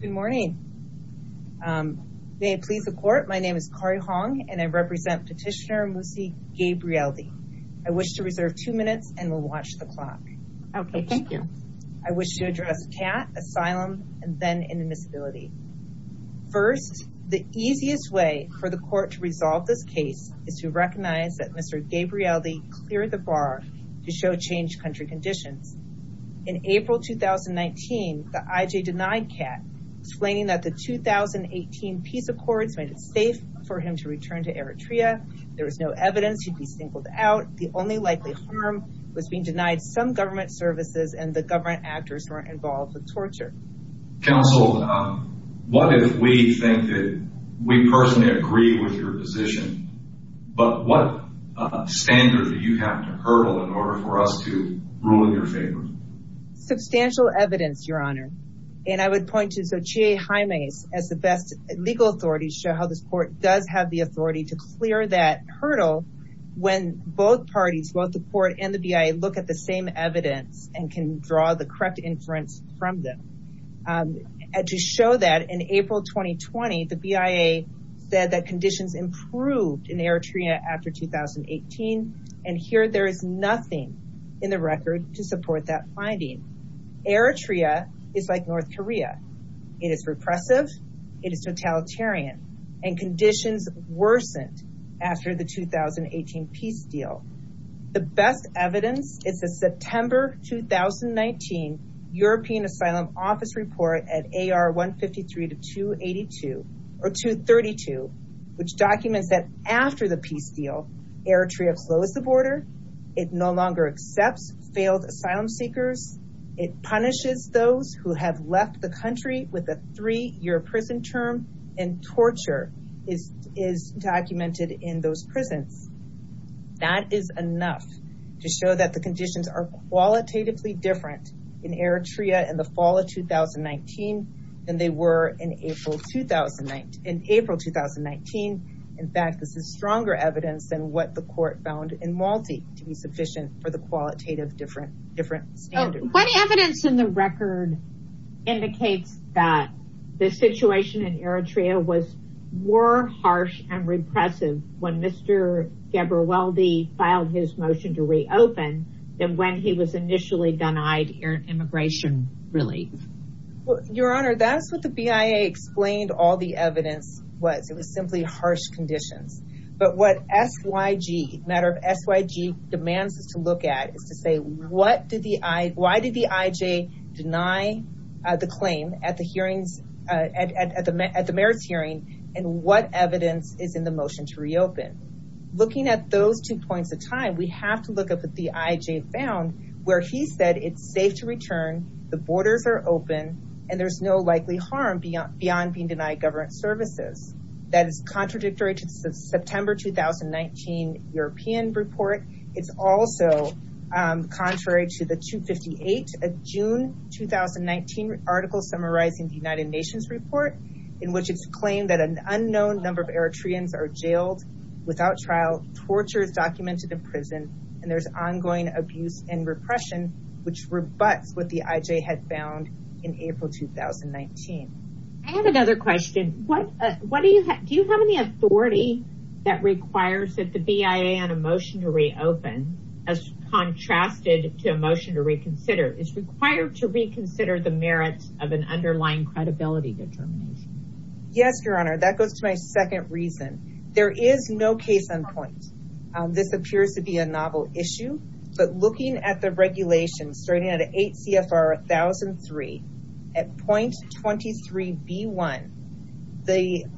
Good morning. May it please the court. My name is Corrie Hong and I represent petitioner Musi Gebreweldi. I wish to reserve two minutes and we'll watch the clock. Okay, thank you. I wish to address CAT, asylum, and then indemnizability. First, the easiest way for the court to resolve this case is to recognize that Mr. Gebreweldi cleared the bar to show change country conditions. In April 2019, the IJ denied CAT, explaining that the 2018 peace accords made it safe for him to return to Eritrea. There was no evidence he'd be singled out. The only likely harm was being denied some government services and the government actors who were involved with torture. Counsel, what if we think that we personally agree with your position, but what standard do you have to hurdle in order for us to rule in your favor? Substantial evidence, your honor, and I would point to Xochitl Jimenez as the best legal authority to show how this court does have the authority to clear that hurdle when both parties, both the court and the BIA, look at the same evidence and can draw the correct inference from them. To show that in April 2020, the BIA said that conditions improved in Eritrea after 2018, and here there is nothing in the record to support that finding. Eritrea is like North Korea. It is repressive, it is totalitarian, and conditions worsened after the 2018 peace deal. The best evidence is the September 2019 European Asylum Office report at AR 153-232, which documents that after the peace deal, Eritrea closed the border, it no longer accepts failed asylum seekers, it punishes those who have left the country with a three-year prison term, and torture is documented in those prisons. That is enough to show that the conditions are qualitatively different in Eritrea in the fall of 2019 than they were in April 2019. In fact, this is stronger evidence than what the court found in Malte to be sufficient for the qualitative different standard. What evidence in the record indicates that the situation in Eritrea was more harsh and repressive when Mr. Ghebrewaldi filed his motion to reopen than when he was initially denied immigration relief? Your Honor, that is what the BIA explained all the evidence was. It was simply harsh conditions. But what SYG demands us to look at is to say, why did the IJ deny the claim at the merits hearing, and what evidence is in the motion to reopen? Looking at those two points of time, we have to look at what the IJ found, where he said it's safe to return, the borders are open, and there's no likely harm beyond being denied government services. That is contradictory to September 2019 European report. It's also contrary to the June 2019 article summarizing the United Nations report, in which it's claimed that an unknown number of Eritreans are jailed without trial, torture is documented in prison, and there's ongoing abuse and repression, which rebuts what the IJ had found in April 2019. I have another question. Do you have any authority that requires that the BIA on a motion to reopen, as contrasted to a motion to reconsider, is required to reconsider the merits of an underlying credibility determination? Yes, Your Honor, that goes to my second reason. There is no case on point. This appears to be a novel issue, but looking at the regulations, starting at 8 CFR 1003, at point 23 B1, the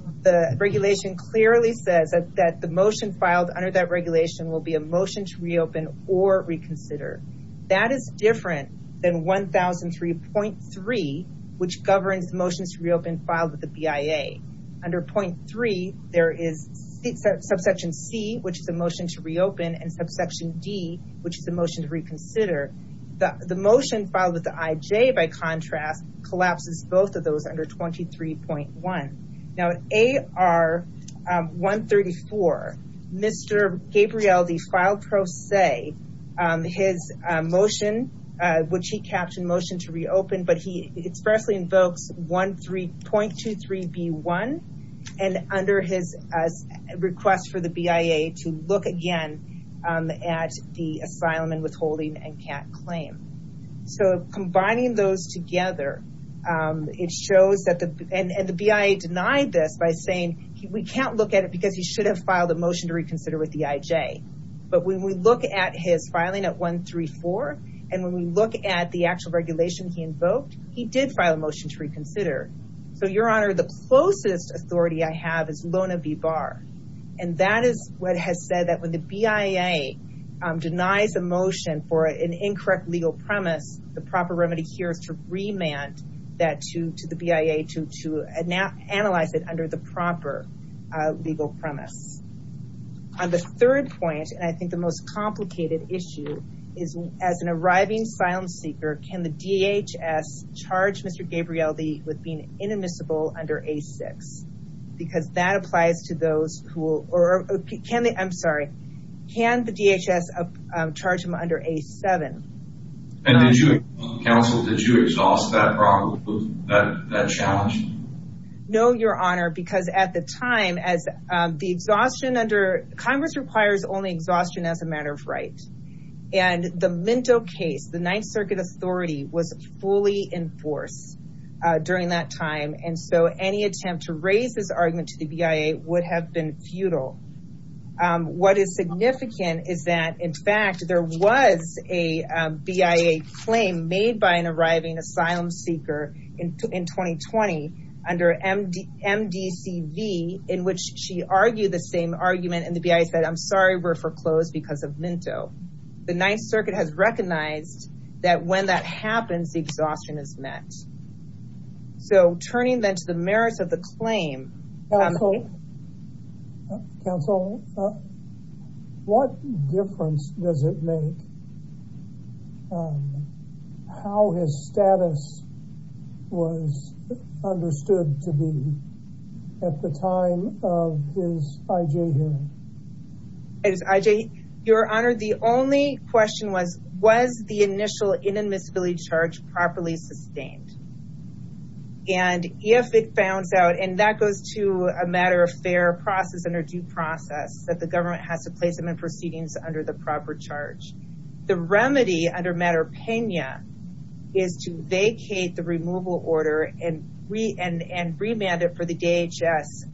regulation clearly says that the motion filed under that regulation will be a motion to reopen or reconsider. That is different than 1003.3, which governs motions to reopen filed with the BIA. Under point three, there is subsection C, which is a motion to reopen, and subsection D, which is a motion to reconsider. The motion filed with the IJ, by contrast, collapses both of those under 23.1. Now, AR 134, Mr. Gabriel de Faltrose, his motion, which he captioned motion to reopen, but he expressly invokes point 23 B1, and under his request for the BIA to look again at the asylum and withholding and can't claim. Combining those together, it shows that the BIA denied this by saying, we can't look at it because he should have filed a motion to reconsider with the IJ. But when we look at his filing at 134, and when we look at the actual regulation he invoked, he did file a motion to reconsider. So your honor, the closest authority I have is Lona B. Barr, and that is what has said that when the BIA denies a motion for an incorrect legal premise, the proper remedy here is to remand that to the BIA to analyze it under the proper legal premise. On the third point, and I think the most complicated issue, is as an arriving asylum seeker, can the DHS charge Mr. Gabriel de with being inadmissible under A6? Because that applies to those who will, or can the, I'm sorry, can the DHS charge him under A7? And did you, counsel, did you exhaust that problem, that challenge? No, your honor, because at the time, as the exhaustion under, Congress requires only right. And the Minto case, the Ninth Circuit authority was fully in force during that time, and so any attempt to raise this argument to the BIA would have been futile. What is significant is that, in fact, there was a BIA claim made by an arriving asylum seeker in 2020 under MDCV, in which she argued the same argument, and the BIA said, I'm sorry, we're foreclosed because of Minto. The Ninth Circuit has recognized that when that happens, the exhaustion is met. So turning then to the merits of the claim. Counsel, what difference does it make how his status was understood to be at the time of his IJ hearing? As IJ, your honor, the only question was, was the initial inadmissibility charge properly sustained? And if it found out, and that goes to a matter of fair process under due process, that the government has to place him in proceedings under the proper charge. The remedy under matter pena is to vacate the removal order and remand it for the DHS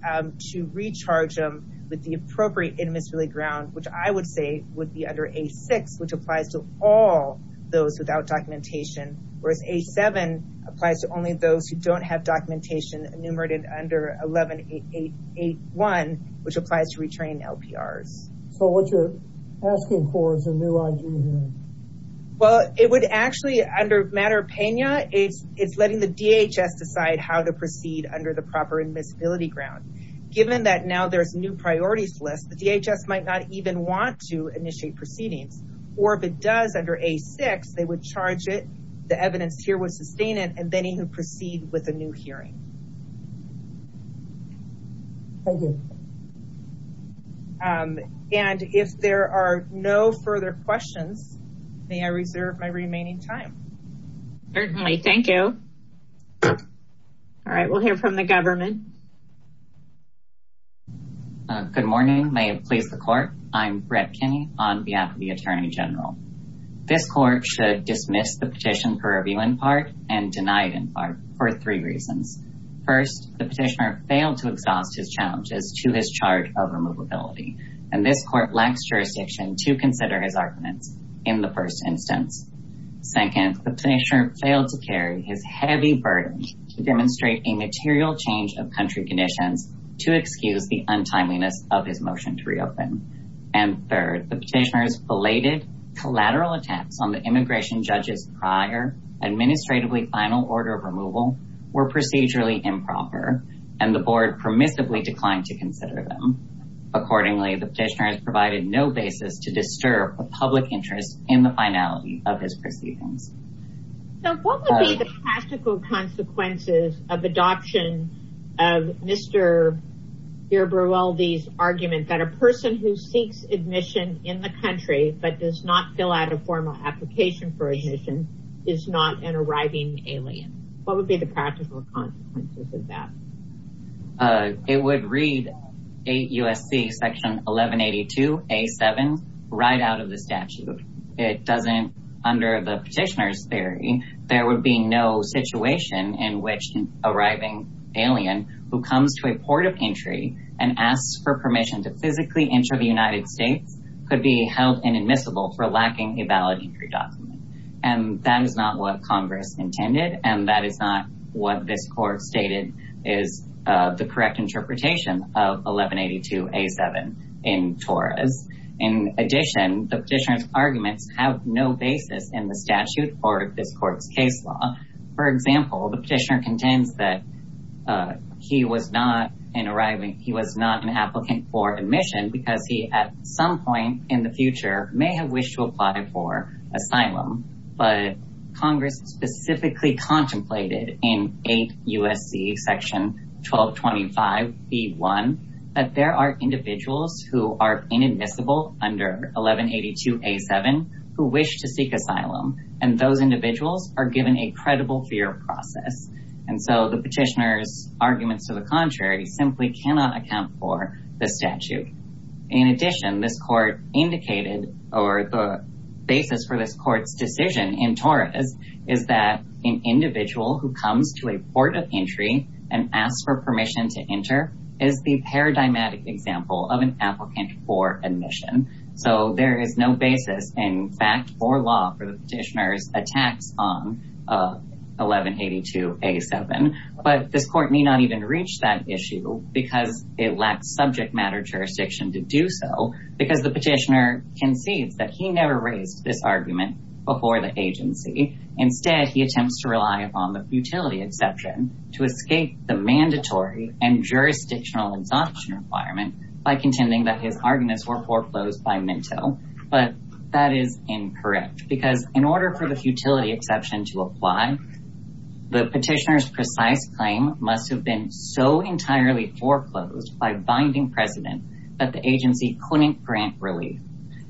to recharge him with the appropriate inadmissibility ground, which I would say would be under A6, which applies to all those without documentation, whereas A7 applies to only those who don't have documentation enumerated under 11881, which applies to retrain LPRs. So what you're asking for is a new IJ hearing? Well, it would actually, under matter pena, it's letting the DHS decide how to proceed under the proper inadmissibility ground. Given that now there's new priorities list, the DHS might not even want to initiate proceedings, or if it does under A6, they would charge it, the evidence here would sustain it, and then even proceed with a new hearing. Thank you. And if there are no further questions, may I reserve my remaining time? Certainly, thank you. All right, we'll hear from the government. Good morning, may it please the court. I'm Brett Kinney on behalf of the Attorney General. This court should dismiss the petition for review in part, and deny it in part, for three reasons. First, the petitioner failed to exhaust his challenges to his charge of removability, and this court lacks jurisdiction to consider his arguments in the first instance. Second, the petitioner failed to carry his heavy burden to demonstrate a material change of country conditions to excuse the untimeliness of his motion to reopen. And third, the petitioner's belated collateral attacks on the immigration judge's prior administratively final order of improper, and the board permissively declined to consider them. Accordingly, the petitioner has provided no basis to disturb the public interest in the finality of his proceedings. So, what would be the practical consequences of adoption of Mr. Berwaldi's argument that a person who seeks admission in the country, but does not fill out a formal application for admission, is not an arriving alien? What would be the practical consequences of that? It would read 8 U.S.C. section 1182, A7, right out of the statute. It doesn't, under the petitioner's theory, there would be no situation in which an arriving alien, who comes to a port of entry, and asks for permission to physically enter the United States, could be held inadmissible for lacking a valid entry document. And that is not what Congress intended, and that is not what this court stated is the correct interpretation of 1182, A7 in TORAS. In addition, the petitioner's arguments have no basis in the statute or this court's case law. For example, the petitioner contends that he was not an arriving, he was not an applicant for admission because he, at some point in the future, may have wished to apply for asylum, but Congress specifically contemplated in 8 U.S.C. section 1225, B1, that there are individuals who are inadmissible under 1182, A7, who wish to seek asylum, and those individuals are given a credible fear process. And so the petitioner's arguments to the contrary simply cannot account for the statute. In addition, this court indicated, or the basis for this court's decision in TORAS, is that an individual who comes to a port of entry and asks for permission to enter is the paradigmatic example of an applicant for admission. So there is no basis, in fact, or law for the petitioner's attacks on 1182, A7. But this court may not even reach that issue because it lacks subject matter jurisdiction to do so, because the petitioner concedes that he never raised this argument before the agency. Instead, he attempts to rely upon the futility exception to escape the mandatory and jurisdictional exhaustion requirement by contending that his arguments were foreclosed by Minto. But that is incorrect, because in order for the futility foreclosed by binding precedent that the agency couldn't grant relief,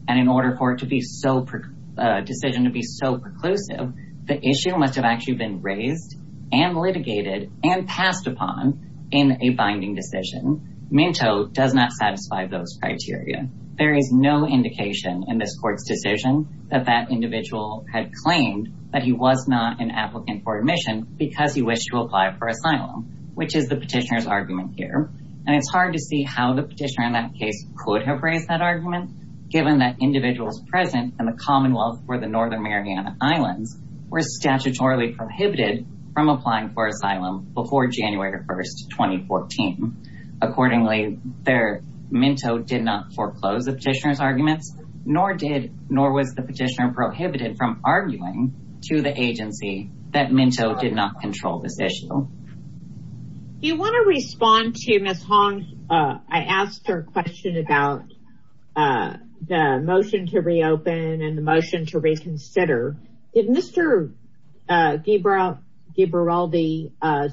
and in order for it to be decision to be so preclusive, the issue must have actually been raised and litigated and passed upon in a binding decision. Minto does not satisfy those criteria. There is no indication in this court's decision that that individual had claimed that he was not an applicant for admission because he wished to apply for asylum, which is the petitioner's argument here. And it's hard to see how the petitioner in that case could have raised that argument, given that individuals present in the Commonwealth or the Northern Mariana Islands were statutorily prohibited from applying for asylum before January 1, 2014. Accordingly, Minto did not foreclose the petitioner's arguments, nor was the petitioner prohibited from arguing to the agency that Minto did not control this issue. Do you want to respond to Ms. Hong? I asked her a question about the motion to reopen and the motion to reconsider. Did Mr. Gibraldi's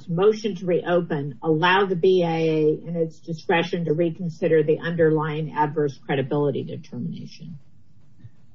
motion to reopen allow the BIA in its discretion to reconsider the underlying adverse credibility determination?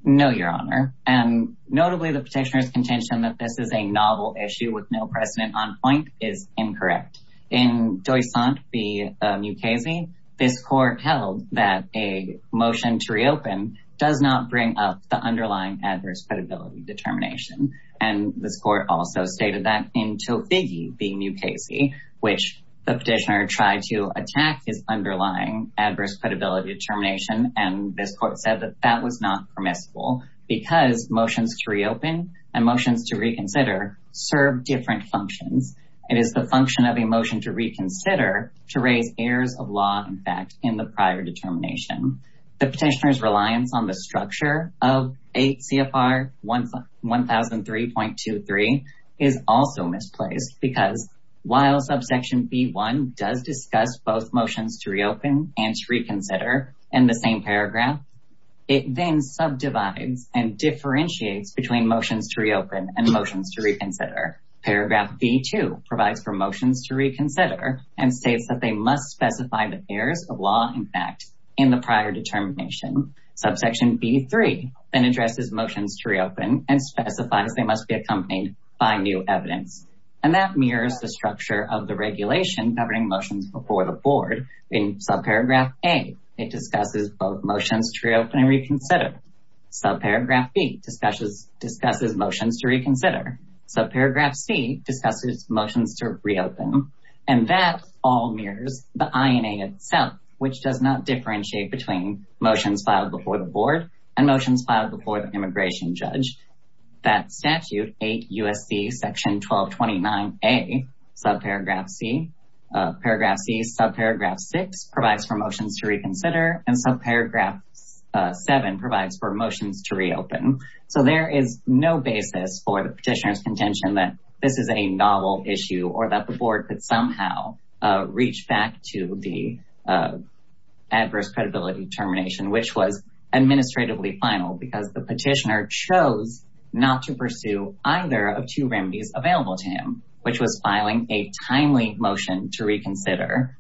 No, Your Honor. And notably, the petitioner's contention that this is a novel issue with no precedent on point is incorrect. In Doysante v. Mukasey, this court held that a motion to reopen does not bring up the underlying adverse credibility determination. And this court also stated that in Tofigi v. Mukasey, which the petitioner tried to attack his underlying credibility determination, and this court said that that was not permissible because motions to reopen and motions to reconsider serve different functions. It is the function of a motion to reconsider to raise errors of law, in fact, in the prior determination. The petitioner's reliance on the structure of 8 CFR 1003.23 is also misplaced because while subsection B1 does discuss both in the same paragraph, it then subdivides and differentiates between motions to reopen and motions to reconsider. Paragraph B2 provides for motions to reconsider and states that they must specify the errors of law, in fact, in the prior determination. Subsection B3 then addresses motions to reopen and specifies they must be accompanied by new evidence. And that mirrors the structure of the regulation governing motions before the board in subparagraph A. It discusses both motions to reopen and reconsider. Subparagraph B discusses motions to reconsider. Subparagraph C discusses motions to reopen. And that all mirrors the INA itself, which does not differentiate between motions filed before the board and motions filed before the immigration judge. That statute, 8 USC section 1229A, subparagraph C, subparagraph 6 provides for motions to reconsider and subparagraph 7 provides for motions to reopen. So there is no basis for the petitioner's contention that this is a novel issue or that the board could somehow reach back to the adverse credibility determination, which was administratively final because the petitioner chose not to pursue either of two remedies available to him, which was filing a timely motion to reconsider.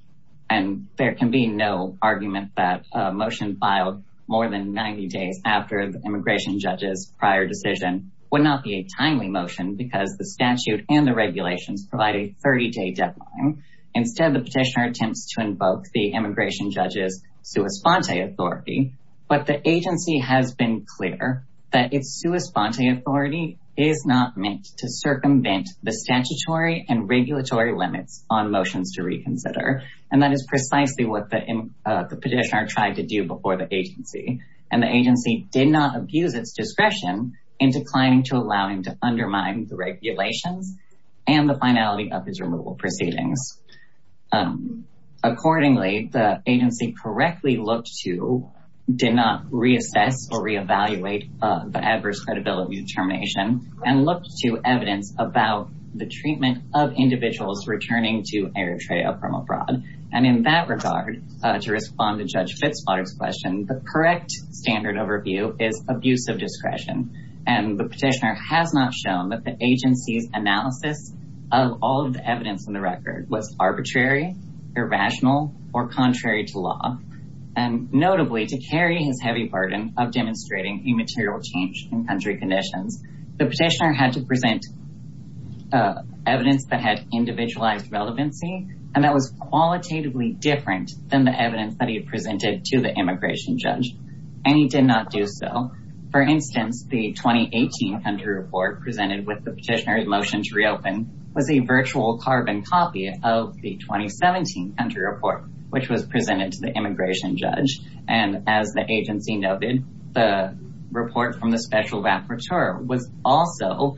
And there can be no argument that a motion filed more than 90 days after the immigration judge's prior decision would not be a timely motion because the statute and the regulations provide a 30-day deadline. Instead, the petitioner attempts to invoke the immigration judge's sua sponte authority, but the agency has been clear that its sua sponte authority is not meant to circumvent the statutory and regulatory limits on motions to reconsider. And that is precisely what the petitioner tried to do before the agency. And the agency did not abuse its discretion in declining to allow him to undermine the regulations and the finality of his removal proceedings. Accordingly, the agency correctly looked to, did not reassess or reevaluate the adverse credibility determination, and looked to evidence about the treatment of individuals returning to air trail from abroad. And in that regard, to respond to Judge Fitzpatrick's question, the correct standard overview is abuse of discretion. And the petitioner has not shown that the agency's record was arbitrary, irrational, or contrary to law. And notably, to carry his heavy burden of demonstrating immaterial change in country conditions, the petitioner had to present evidence that had individualized relevancy, and that was qualitatively different than the evidence that he had presented to the immigration judge. And he did not do so. For instance, the the 2017 country report, which was presented to the immigration judge. And as the agency noted, the report from the special rapporteur was also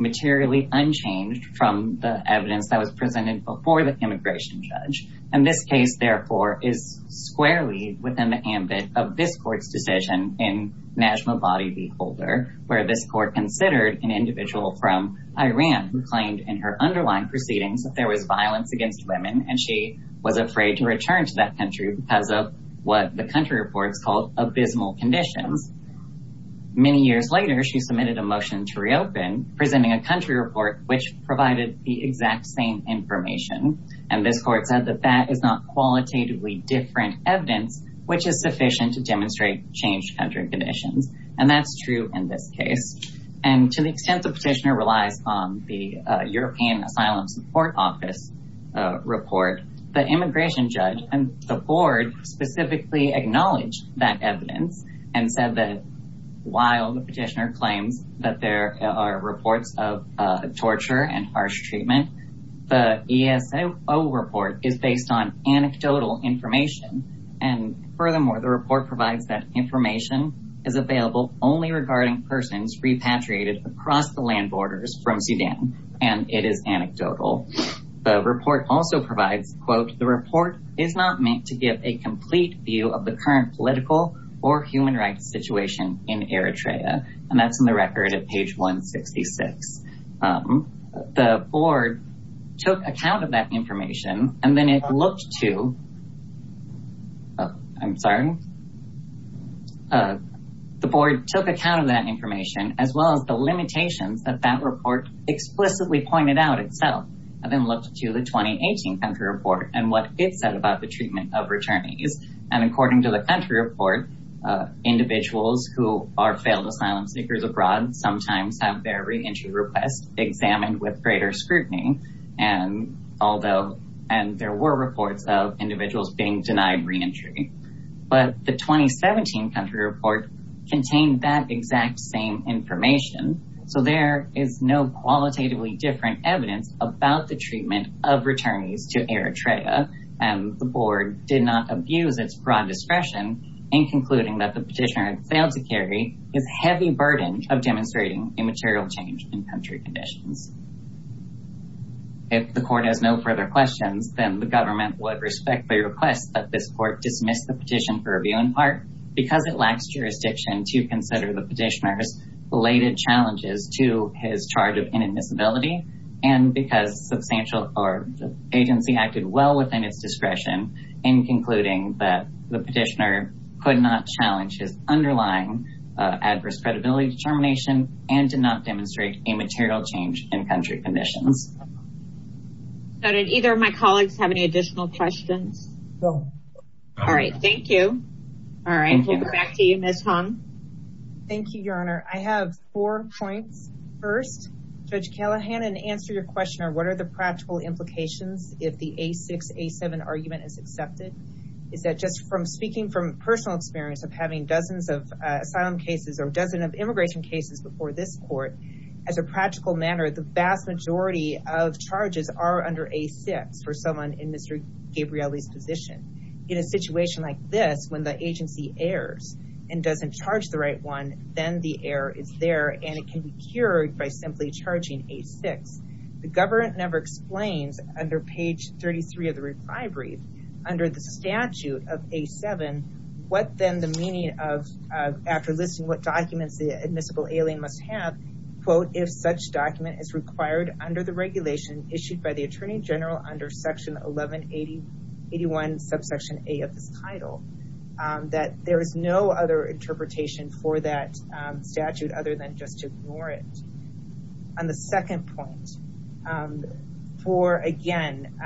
materially unchanged from the evidence that was presented before the immigration judge. And this case, therefore, is squarely within the ambit of this court's decision in Najmabadi v. Holder, where this court considered an individual from against women, and she was afraid to return to that country because of what the country report is called abysmal conditions. Many years later, she submitted a motion to reopen, presenting a country report, which provided the exact same information. And this court said that that is not qualitatively different evidence, which is sufficient to demonstrate changed country conditions. And that's true in this case. And to the extent the petitioner relies on the European Asylum Support Office report, the immigration judge and the board specifically acknowledged that evidence and said that while the petitioner claims that there are reports of torture and harsh treatment, the ESO report is based on anecdotal information. And furthermore, the report provides that information is available only regarding persons repatriated across the land borders from the country. And that is anecdotal. The report also provides, quote, the report is not meant to give a complete view of the current political or human rights situation in Eritrea. And that's in the record at page 166. The board took account of that information, and then it looked to, I'm sorry, the board took account of that information, as well as the limitations that that report explicitly pointed out itself, and then looked to the 2018 country report and what it said about the treatment of returnees. And according to the country report, individuals who are failed asylum seekers abroad sometimes have their re-entry request examined with greater scrutiny. And although, and there were reports of individuals being denied re-entry. But the 2017 country report contained that exact same information. So there is no qualitatively different evidence about the treatment of returnees to Eritrea. And the board did not abuse its broad discretion in concluding that the petitioner had failed to carry his heavy burden of demonstrating immaterial change in country conditions. If the court has no further questions, then the government would respectfully request that this court dismiss the petition for review in part because it lacks jurisdiction to consider the petitioner's related challenges to his charge of inadmissibility and because substantial or the agency acted well within its discretion in concluding that the petitioner could not challenge his underlying adverse credibility determination and did not demonstrate immaterial change in country conditions. So did either of my colleagues have any additional questions? No. All right. Thank you. All right. We'll go back to you, Ms. Hung. Thank you, Your Honor. I have four points. First, Judge Callahan, in answer to your question on what are the practical implications if the A6, A7 argument is accepted, is that just from speaking from personal experience of having dozens of asylum cases or dozen of immigration cases before this court, as a practical matter, the vast majority of charges are under A6 for someone in Mr. Gabrielli's position. In a situation like this, when the agency errs and doesn't charge the right one, then the error is there and it can be cured by simply charging A6. The government never explains under page 33 of the reply brief, under the statute of A7, what then the meaning of after listing what documents the required under the regulation issued by the Attorney General under section 1181, subsection A of this title, that there is no other interpretation for that statute other than just to ignore it. On the second point, for again,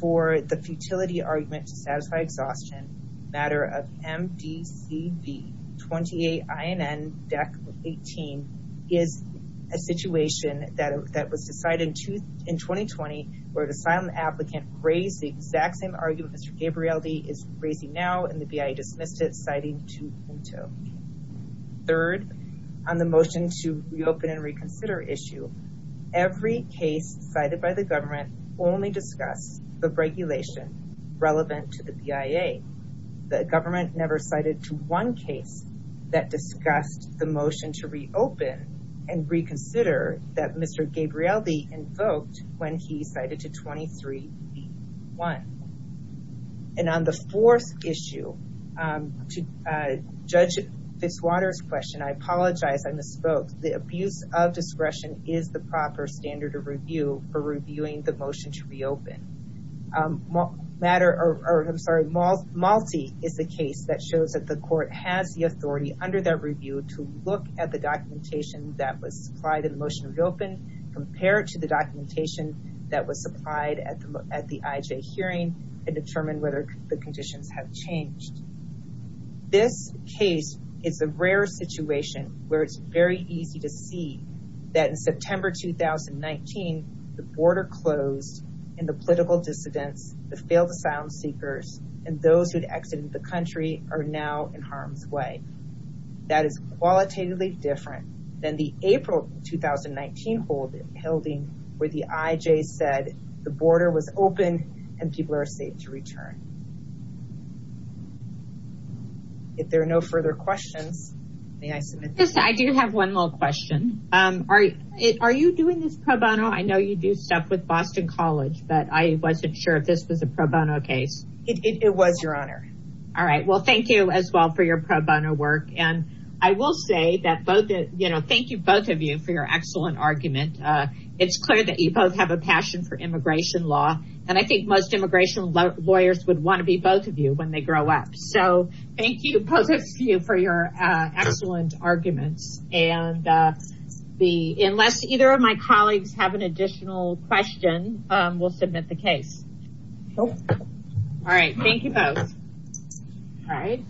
for the futility argument to satisfy exhaustion, matter of MDCV 28INN, deck 18, is a situation that was decided in 2020 where the asylum applicant raised the exact same argument Mr. Gabrielli is raising now and the BIA dismissed it, citing 2.0. Third, on the motion to reopen and reconsider issue, every case cited by the government only discuss the regulation relevant to the BIA. The government never cited one case that discussed the motion to reopen and reconsider that Mr. Gabrielli invoked when he cited to 23B1. And on the fourth issue, to judge Fitzwater's question, I apologize, I misspoke. The abuse of discretion is the proper standard of review for reviewing the motion to reopen. Matter, or I'm sorry, Malti is the case that shows that the court has the authority under that review to look at the documentation that was supplied in the motion to reopen, compared to the documentation that was supplied at the IJ hearing and determine whether the September 2019, the border closed and the political dissidents, the failed asylum seekers and those who had exited the country are now in harm's way. That is qualitatively different than the April 2019 holding where the IJ said the border was open and people are safe to return. If there are no further questions, may I submit this? I do have one little question. Are you doing this pro bono? I know you do stuff with Boston College, but I wasn't sure if this was a pro bono case. It was your honor. All right. Well, thank you as well for your pro bono work. And I will say that both, you know, thank you both of you for your excellent argument. It's clear that you both have a passion for immigration law. And I think most immigration lawyers would want to be both of you when they grow up. So thank you both of you for your excellent arguments. And unless either of my colleagues have an additional question, we'll submit the case. All right. Thank you both. All right.